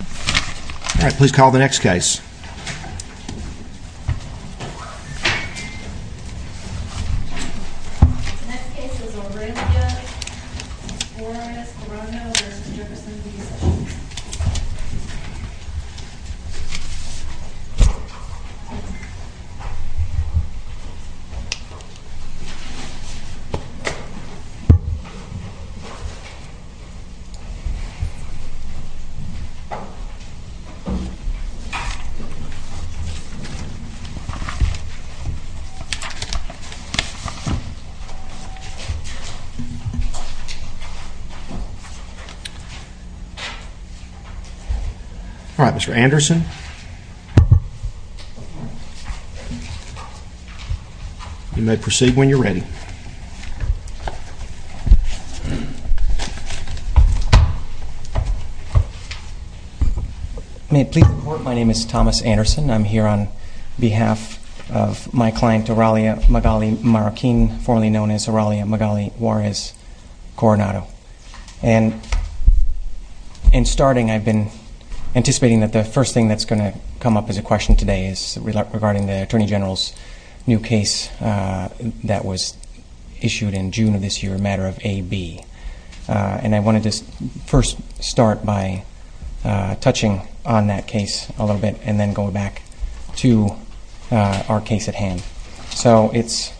All right, please call the next case. The next case is Oralia Juarez-Coronado v. Jefferson B. Sessions. All right, Mr. Anderson, you may proceed when you're ready. May it please the Court, my name is Thomas Anderson. I'm here on behalf of my client, Oralia Magali Marroquin, formerly known as Oralia Magali Juarez-Coronado. And in starting, I've been anticipating that the first thing that's going to come up as a question today is regarding the Attorney General's new case that was issued in June of this year, a matter of AB. And I wanted to first start by touching on that case a little bit and then go back to our case at hand. So it's,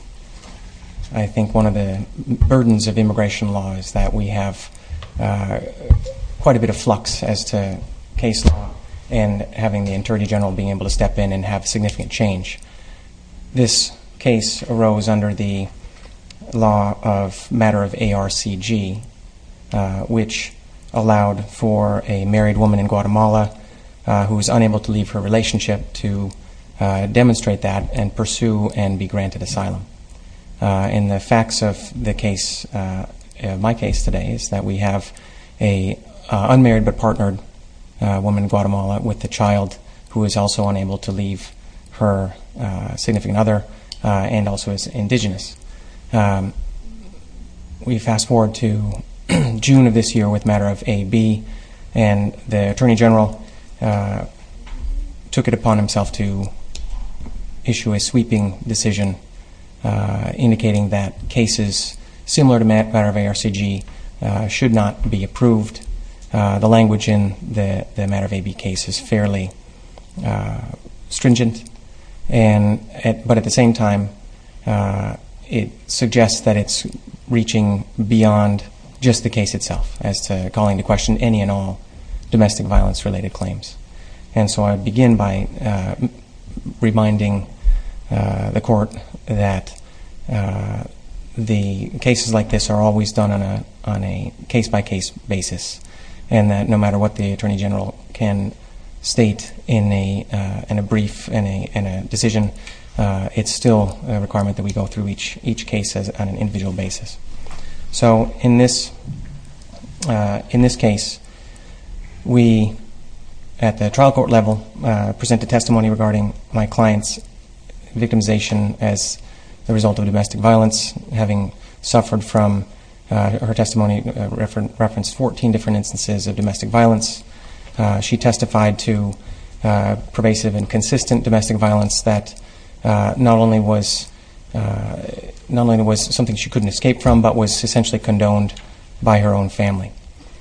I think, one of the burdens of immigration law is that we have quite a bit of flux as to case law and having the Attorney General being able to step in and have significant change. This case arose under the law of matter of ARCG, which allowed for a married woman in Guatemala who was unable to leave her relationship to demonstrate that and pursue and be granted asylum. And the facts of the case, my case today, is that we have an unmarried but partnered woman in Guatemala with a child who is also unable to leave her significant other and also is indigenous. We fast forward to June of this year with matter of AB, and the Attorney General took it upon himself to issue a sweeping decision indicating that cases similar to matter of ARCG should not be approved. The language in the matter of AB case is fairly stringent. But at the same time, it suggests that it's reaching beyond just the case itself as to calling into question any and all domestic violence-related claims. And so I begin by reminding the Court that the cases like this are always done on a case-by-case basis and that no matter what the Attorney General can state in a brief, in a decision, it's still a requirement that we go through each case on an individual basis. So in this case, we at the trial court level present a testimony regarding my client's victimization as a result of domestic violence. Having suffered from her testimony referenced 14 different instances of domestic violence, she testified to pervasive and consistent domestic violence that not only was something she couldn't escape from, but was essentially condoned by her own family.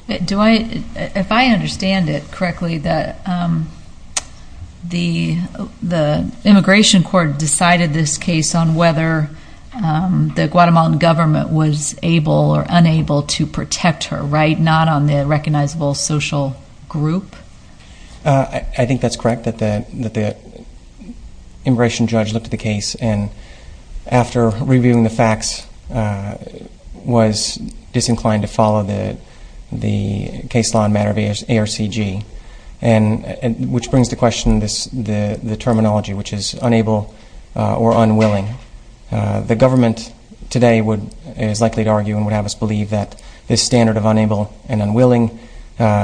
If I understand it correctly, the Immigration Court decided this case on whether the Guatemalan government was able or unable to protect her, right, not on the recognizable social group? I think that's correct, that the Immigration Judge looked at the case, and after reviewing the facts, was disinclined to follow the case law in matter of ARCG, which brings to question the terminology, which is unable or unwilling. The government today is likely to argue and would have us believe that this standard of unable and unwilling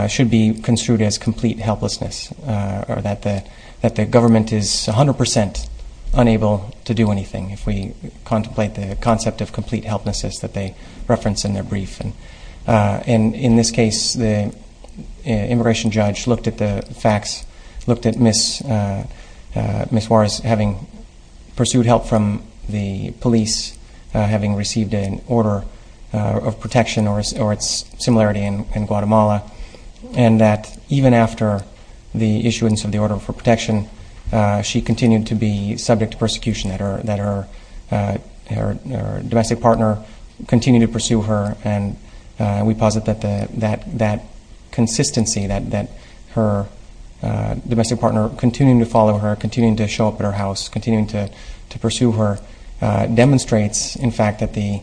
should be construed as complete helplessness, or that the government is 100% unable to do anything, if we contemplate the concept of complete helplessness that they reference in their brief. In this case, the Immigration Judge looked at the facts, looked at Ms. Juarez having pursued help from the police, having received an order of protection or its similarity in Guatemala, and that even after the issuance of the order for protection, she continued to be subject to persecution, that her domestic partner continued to pursue her. And we posit that that consistency, that her domestic partner continuing to follow her, continuing to show up at her house, continuing to pursue her, demonstrates, in fact, that the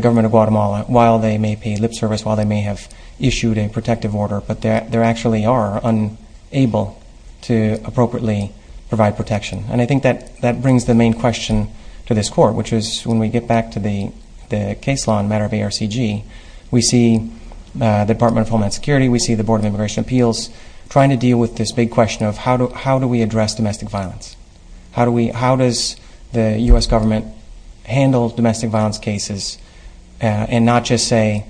government of Guatemala, while they may pay lip service, while they may have issued a protective order, but they actually are unable to appropriately provide protection. And I think that brings the main question to this Court, which is when we get back to the case law in matter of ARCG, we see the Department of Homeland Security, we see the Board of Immigration Appeals trying to deal with this big question of how do we address domestic violence? How does the U.S. government handle domestic violence cases and not just say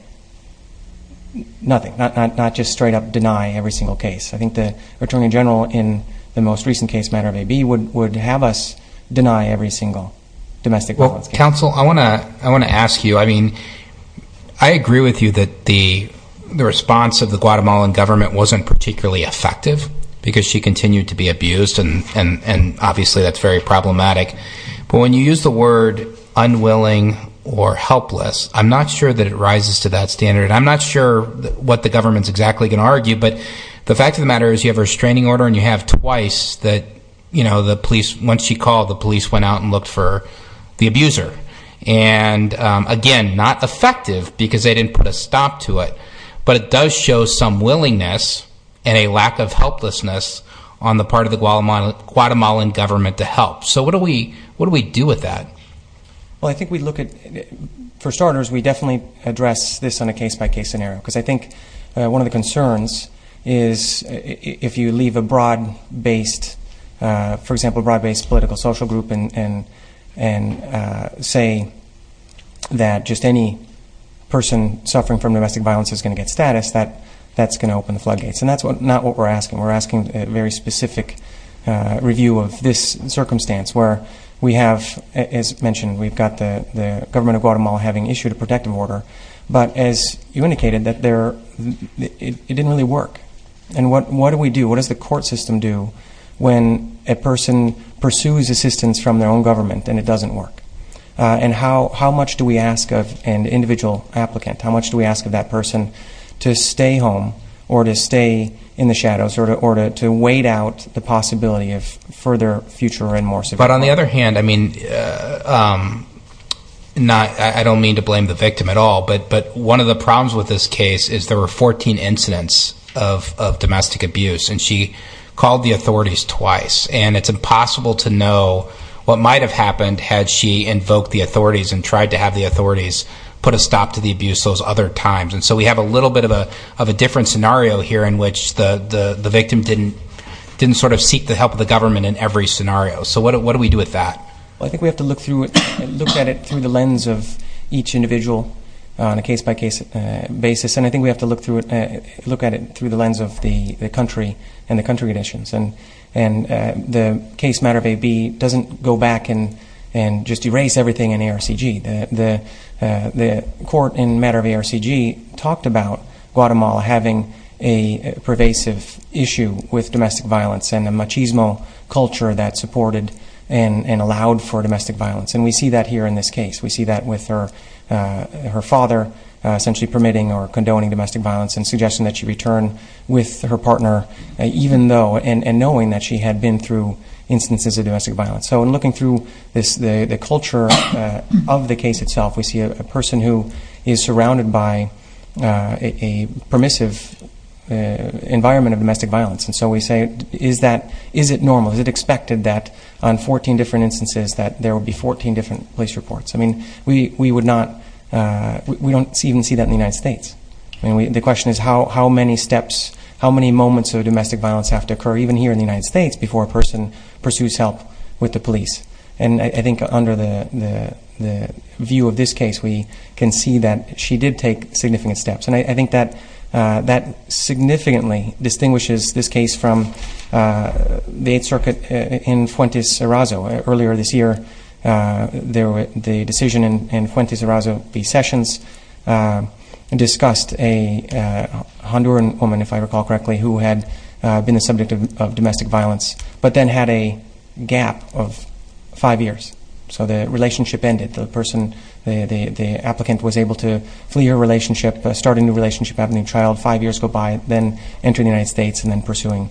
nothing, not just straight up deny every single case? I think the Attorney General in the most recent case, matter of AB, would have us deny every single domestic violence case. Well, counsel, I want to ask you, I mean, I agree with you that the response of the Guatemalan government wasn't particularly effective because she continued to be abused, and obviously that's very problematic. But when you use the word unwilling or helpless, I'm not sure that it rises to that standard. I'm not sure what the government's exactly going to argue, but the fact of the matter is you have a restraining order and you have twice that, you know, the police, once she called, the police went out and looked for the abuser. And again, not effective because they didn't put a stop to it, but it does show some willingness and a lack of helplessness on the part of the Guatemalan government to help. So what do we do with that? Well, I think we look at, for starters, we definitely address this on a case-by-case scenario, because I think one of the concerns is if you leave a broad-based, for example, broad-based political social group and say that just any person suffering from domestic violence is going to get status, that's going to open the floodgates. And that's not what we're asking. We're asking a very specific review of this circumstance where we have, as mentioned, we've got the government of Guatemala having issued a protective order, but as you indicated, it didn't really work. And what do we do? What does the court system do when a person pursues assistance from their own government and it doesn't work? And how much do we ask of an individual applicant? How much do we ask of that person to stay home or to stay in the shadows or to wait out the possibility of further future and more severe harm? But on the other hand, I mean, I don't mean to blame the victim at all, but one of the problems with this case is there were 14 incidents of domestic abuse, and she called the authorities twice. And it's impossible to know what might have happened had she invoked the authorities and tried to have the authorities put a stop to the abuse those other times. And so we have a little bit of a different scenario here in which the victim didn't sort of seek the help of the government in every scenario. So what do we do with that? Well, I think we have to look at it through the lens of each individual on a case-by-case basis, and I think we have to look at it through the lens of the country and the country conditions. And the case matter of AB doesn't go back and just erase everything in ARCG. The court in matter of ARCG talked about Guatemala having a pervasive issue with domestic violence and a machismo culture that supported and allowed for domestic violence. And we see that here in this case. We see that with her father essentially permitting or condoning domestic violence and suggesting that she return with her partner even though and knowing that she had been through instances of domestic violence. So in looking through the culture of the case itself, we see a person who is surrounded by a permissive environment of domestic violence. And so we say, is it normal, is it expected that on 14 different instances that there would be 14 different police reports? I mean, we don't even see that in the United States. I mean, the question is how many steps, how many moments of domestic violence have to occur, even here in the United States, before a person pursues help with the police. And I think under the view of this case, we can see that she did take significant steps. And I think that significantly distinguishes this case from the Eighth Circuit in Fuentes Arazo. Earlier this year, the decision in Fuentes Arazo v. Sessions discussed a Honduran woman, if I recall correctly, who had been the subject of domestic violence but then had a gap of five years. So the relationship ended. The applicant was able to flee her relationship, start a new relationship, have a new child, five years go by, then enter the United States and then pursuing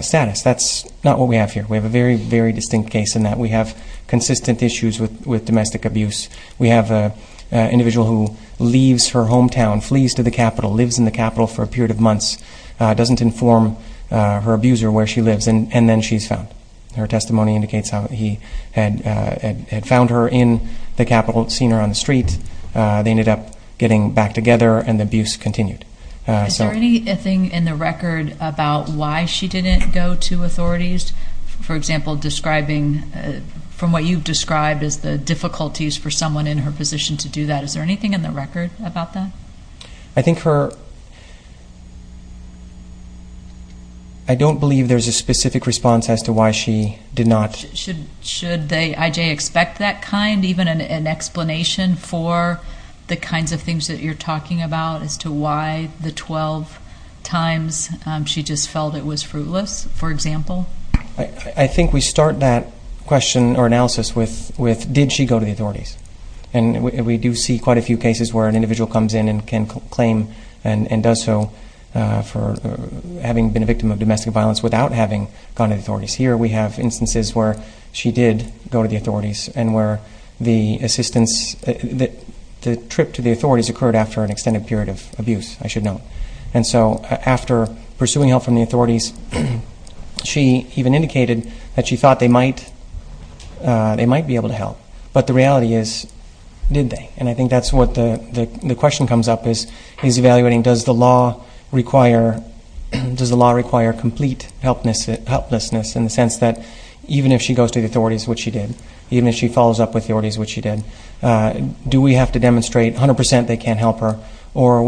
status. That's not what we have here. We have a very, very distinct case in that we have consistent issues with domestic abuse. We have an individual who leaves her hometown, flees to the capital, lives in the capital for a period of months, doesn't inform her abuser where she lives, and then she's found. Her testimony indicates how he had found her in the capital, seen her on the street. They ended up getting back together, and the abuse continued. Is there anything in the record about why she didn't go to authorities? For example, from what you've described as the difficulties for someone in her position to do that, is there anything in the record about that? I don't believe there's a specific response as to why she did not. Should IJ expect that kind, even an explanation for the kinds of things that you're talking about as to why the 12 times she just felt it was fruitless, for example? I think we start that question or analysis with did she go to the authorities? And we do see quite a few cases where an individual comes in and can claim and does so for having been a victim of domestic violence without having gone to the authorities. Here we have instances where she did go to the authorities and where the assistance, the trip to the authorities occurred after an extended period of abuse, I should note. And so after pursuing help from the authorities, she even indicated that she thought they might be able to help. But the reality is, did they? And I think that's what the question comes up, is evaluating does the law require complete helplessness in the sense that even if she goes to the authorities, which she did, even if she follows up with the authorities, which she did, do we have to demonstrate 100% they can't help her or are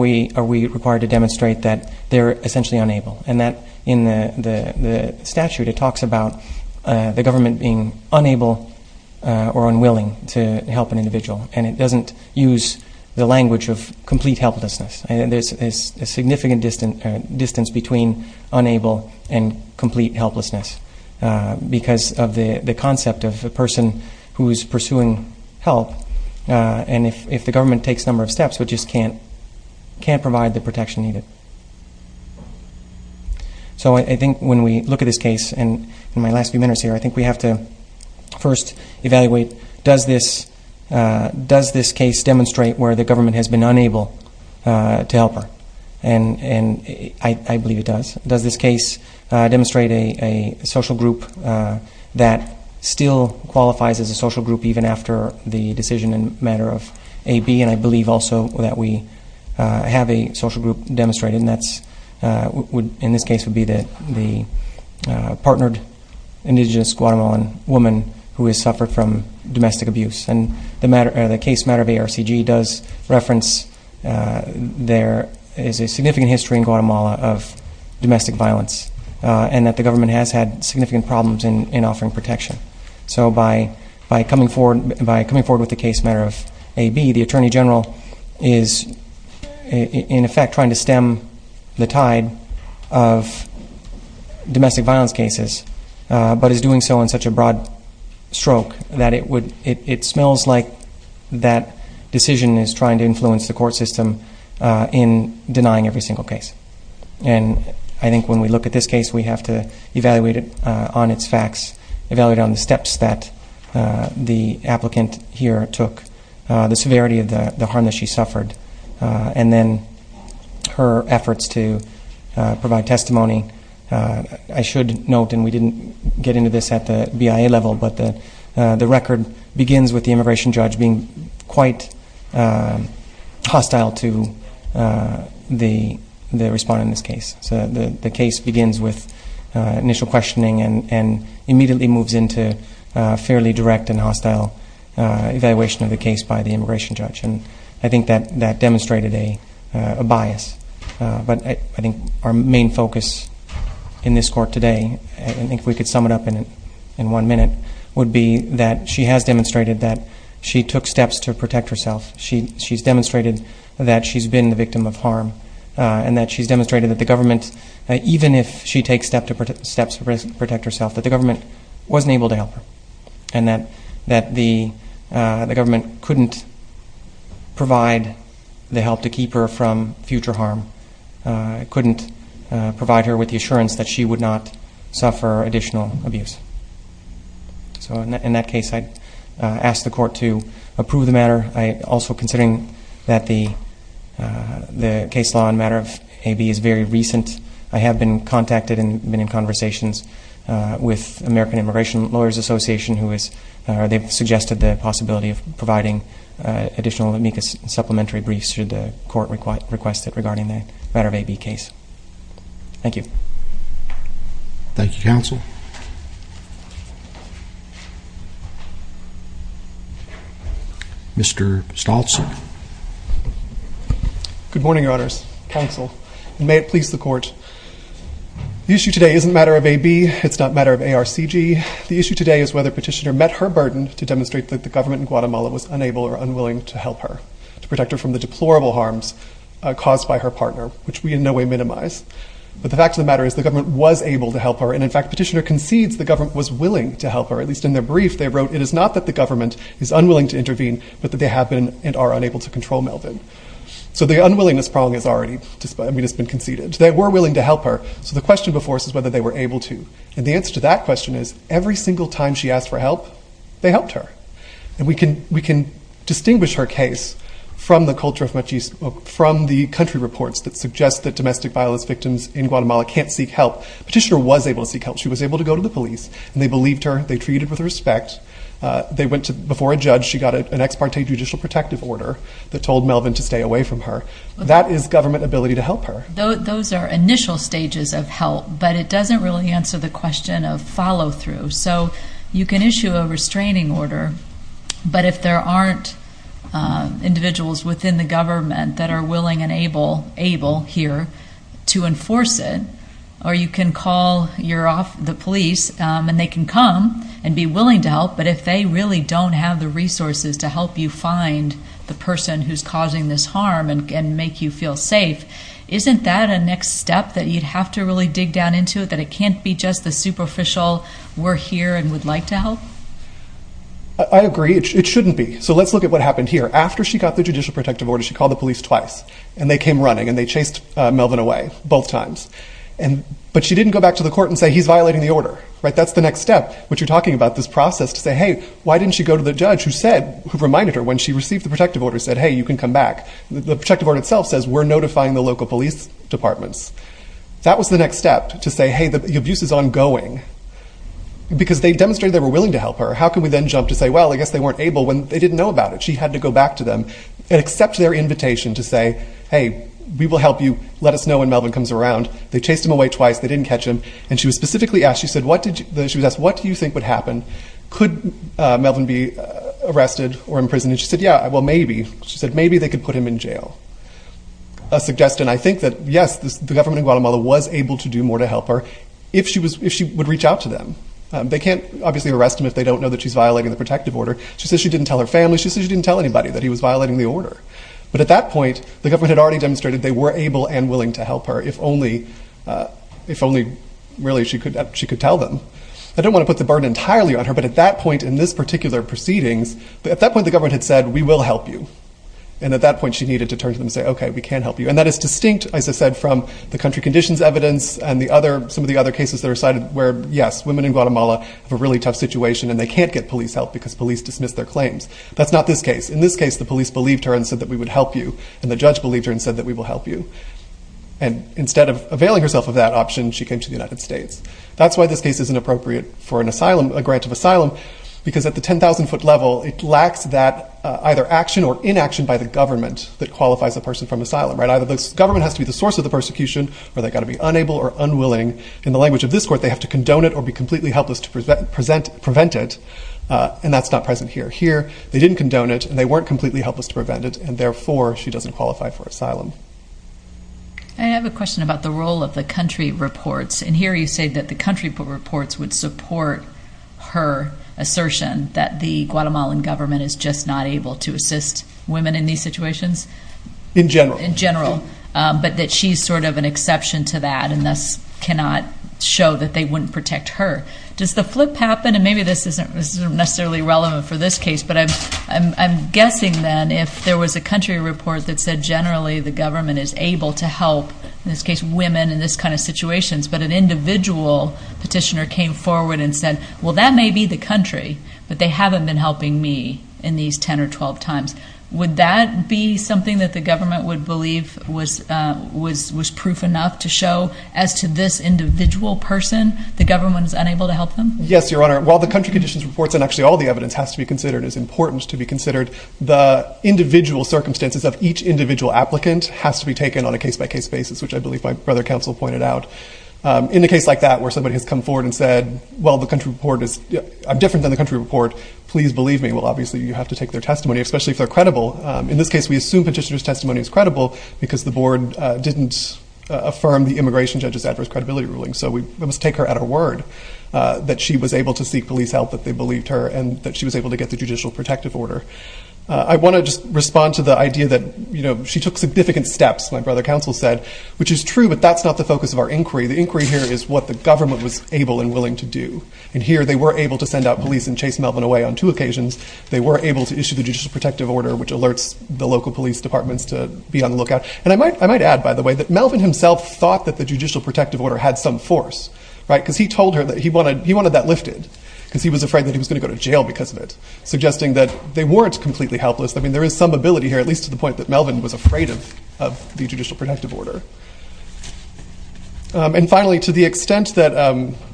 we required to demonstrate that they're essentially unable? And that in the statute, it talks about the government being unable or unwilling to help an individual. And it doesn't use the language of complete helplessness. There's a significant distance between unable and complete helplessness because of the concept of a person who is pursuing help. And if the government takes a number of steps, we just can't provide the protection needed. So I think when we look at this case, and in my last few minutes here, I think we have to first evaluate, does this case demonstrate where the government has been unable to help her? And I believe it does. Does this case demonstrate a social group that still qualifies as a social group, even after the decision and matter of AB? And I believe also that we have a social group demonstrated, and that in this case would be the partnered indigenous Guatemalan woman who has suffered from domestic abuse. And the case matter of ARCG does reference there is a significant history in Guatemala of domestic violence and that the government has had significant problems in offering protection. So by coming forward with the case matter of AB, the Attorney General is in effect trying to stem the tide of domestic violence cases, but is doing so in such a broad stroke that it smells like that decision is trying to influence the court system in denying every single case. And I think when we look at this case, we have to evaluate it on its facts, evaluate on the steps that the applicant here took, the severity of the harm that she suffered, and then her efforts to provide testimony. I should note, and we didn't get into this at the BIA level, but the record begins with the immigration judge being quite hostile to the respondent in this case. So the case begins with initial questioning and immediately moves into a fairly direct and hostile evaluation of the case by the immigration judge. And I think that demonstrated a bias. But I think our main focus in this court today, and I think if we could sum it up in one minute, would be that she has demonstrated that she took steps to protect herself. She's demonstrated that she's been the victim of harm and that she's demonstrated that the government, even if she takes steps to protect herself, that the government wasn't able to help her and that the government couldn't provide the help to keep her from future harm, couldn't provide her with the assurance that she would not suffer additional abuse. So in that case, I'd ask the court to approve the matter. Also, considering that the case law and matter of AB is very recent, I have been contacted and been in conversations with American Immigration Lawyers Association, who have suggested the possibility of providing additional amicus supplementary briefs should the court request it regarding the matter of AB case. Thank you. Thank you, counsel. Mr. Stoltz. Good morning, Your Honors, counsel, and may it please the court. The issue today isn't a matter of AB. It's not a matter of ARCG. The issue today is whether Petitioner met her burden to demonstrate that the government in Guatemala was unable or unwilling to help her to protect her from the deplorable harms caused by her partner, which we in no way minimize. But the fact of the matter is the government was able to help her, and in fact Petitioner concedes the government was willing to help her. At least in their brief, they wrote, it is not that the government is unwilling to intervene, but that they have been and are unable to control Melvin. So the unwillingness problem has already been conceded. They were willing to help her, so the question before us is whether they were able to. And the answer to that question is every single time she asked for help, they helped her. And we can distinguish her case from the country reports that suggest that domestic violence victims in Guatemala can't seek help. Petitioner was able to seek help. She was able to go to the police, and they believed her. They treated her with respect. Before a judge, she got an ex parte judicial protective order that told Melvin to stay away from her. That is government ability to help her. Those are initial stages of help, but it doesn't really answer the question of follow through. So you can issue a restraining order, but if there aren't individuals within the government that are willing and able here to enforce it, or you can call the police, and they can come and be willing to help, but if they really don't have the resources to help you find the person who is causing this harm and make you feel safe, isn't that a next step that you'd have to really dig down into, that it can't be just the superficial we're here and would like to help? I agree. It shouldn't be. So let's look at what happened here. After she got the judicial protective order, she called the police twice, and they came running, and they chased Melvin away both times. But she didn't go back to the court and say, he's violating the order. That's the next step, which you're talking about, this process to say, hey, why didn't she go to the judge who reminded her when she received the protective order, said, hey, you can come back. The protective order itself says, we're notifying the local police departments. That was the next step, to say, hey, the abuse is ongoing, because they demonstrated they were willing to help her. How can we then jump to say, well, I guess they weren't able when they didn't know about it. She had to go back to them and accept their invitation to say, hey, we will help you. Let us know when Melvin comes around. They chased him away twice. They didn't catch him. And she was specifically asked, she was asked, what do you think would happen? Could Melvin be arrested or imprisoned? And she said, yeah, well, maybe. She said, maybe they could put him in jail. A suggestion, I think that, yes, the government in Guatemala was able to do more to help her if she would reach out to them. They can't obviously arrest him if they don't know that she's violating the protective order. She says she didn't tell her family. She says she didn't tell anybody that he was violating the order. But at that point, the government had already demonstrated they were able and willing to help her, if only, really, she could tell them. I don't want to put the burden entirely on her, but at that point in this particular proceedings, at that point, the government had said, we will help you. And at that point, she needed to turn to them and say, okay, we can help you. And that is distinct, as I said, from the country conditions evidence and some of the other cases that are cited where, yes, women in Guatemala have a really tough situation and they can't get police help because police dismissed their claims. That's not this case. In this case, the police believed her and said that we would help you. And the judge believed her and said that we will help you. And instead of availing herself of that option, she came to the United States. That's why this case isn't appropriate for a grant of asylum, because at the 10,000-foot level, it lacks that either action or inaction by the government that qualifies a person from asylum. Either the government has to be the source of the persecution or they've got to be unable or unwilling. In the language of this court, they have to condone it or be completely helpless to prevent it. And that's not present here. Here, they didn't condone it and they weren't completely helpless to prevent it, and therefore, she doesn't qualify for asylum. I have a question about the role of the country reports. And here, you say that the country reports would support her assertion that the Guatemalan government is just not able to assist women in these situations? In general. In general, but that she's sort of an exception to that and thus cannot show that they wouldn't protect her. Does the flip happen? And maybe this isn't necessarily relevant for this case, but I'm guessing then if there was a country report that said generally the government is able to help, in this case, women in this kind of situations, but an individual petitioner came forward and said, well, that may be the country, but they haven't been helping me in these 10 or 12 times. Would that be something that the government would believe was proof enough to show as to this individual person the government is unable to help them? Yes, Your Honor. While the country conditions reports and actually all the evidence has to be considered, it's important to be considered, the individual circumstances of each individual applicant has to be taken on a case-by-case basis, which I believe my brother counsel pointed out. In a case like that where somebody has come forward and said, well, the country report is different than the country report, please believe me. Well, obviously, you have to take their testimony, especially if they're credible. In this case, we assume petitioner's testimony is credible because the board didn't affirm the immigration judge's adverse credibility ruling. So we must take her at her word that she was able to seek police help, that they believed her, and that she was able to get the judicial protective order. I want to just respond to the idea that she took significant steps, my brother counsel said, which is true, but that's not the focus of our inquiry. The inquiry here is what the government was able and willing to do. And here they were able to send out police and chase Melvin away on two occasions. They were able to issue the judicial protective order, which alerts the local police departments to be on the lookout. And I might add, by the way, that Melvin himself thought that the judicial protective order had some force, right, because he told her that he wanted that lifted because he was afraid that he was going to go to jail because of it, suggesting that they weren't completely helpless. I mean, there is some ability here, at least to the point that Melvin was afraid of the judicial protective order. And finally, to the extent that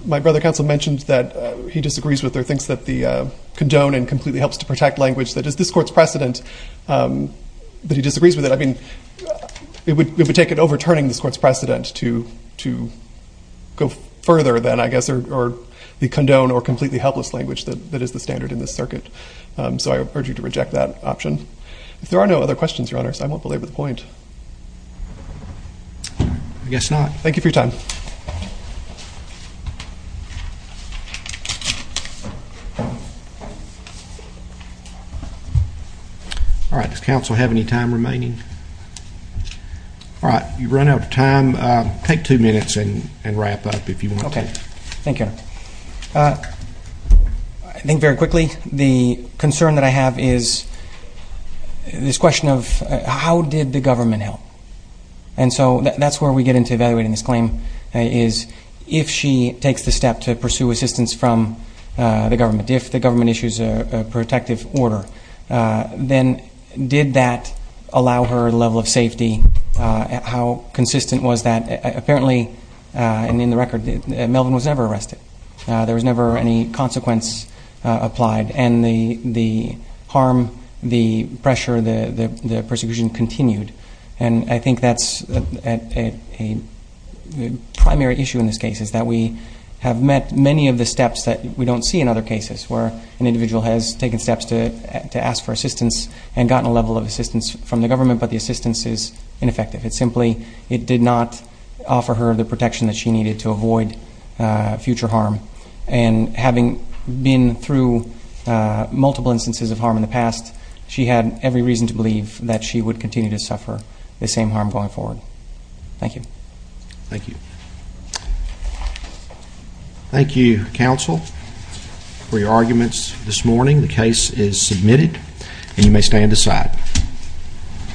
my brother counsel mentioned that he disagrees with her, thinks that the condone and completely helps to protect language, that is this court's precedent that he disagrees with it. I mean, it would take overturning this court's precedent to go further than, I guess, the condone or completely helpless language that is the standard in this circuit. So I urge you to reject that option. If there are no other questions, Your Honors, I won't belabor the point. I guess not. Thank you for your time. All right. Does counsel have any time remaining? All right. You've run out of time. Take two minutes and wrap up if you want to. Okay. Thank you, Your Honor. I think very quickly the concern that I have is this question of how did the government help? And so that's where we get into evaluating this claim is if she takes the step to pursue assistance from the government, if the government issues a protective order, then did that allow her a level of safety? How consistent was that? Apparently, and in the record, Melvin was never arrested. There was never any consequence applied. And the harm, the pressure, the persecution continued. And I think that's a primary issue in this case is that we have met many of the steps that we don't see in other cases, where an individual has taken steps to ask for assistance and gotten a level of assistance from the government, but the assistance is ineffective. It's simply it did not offer her the protection that she needed to avoid future harm. And having been through multiple instances of harm in the past, she had every reason to believe that she would continue to suffer the same harm going forward. Thank you. Thank you. Thank you, counsel, for your arguments this morning. The case is submitted, and you may stand aside.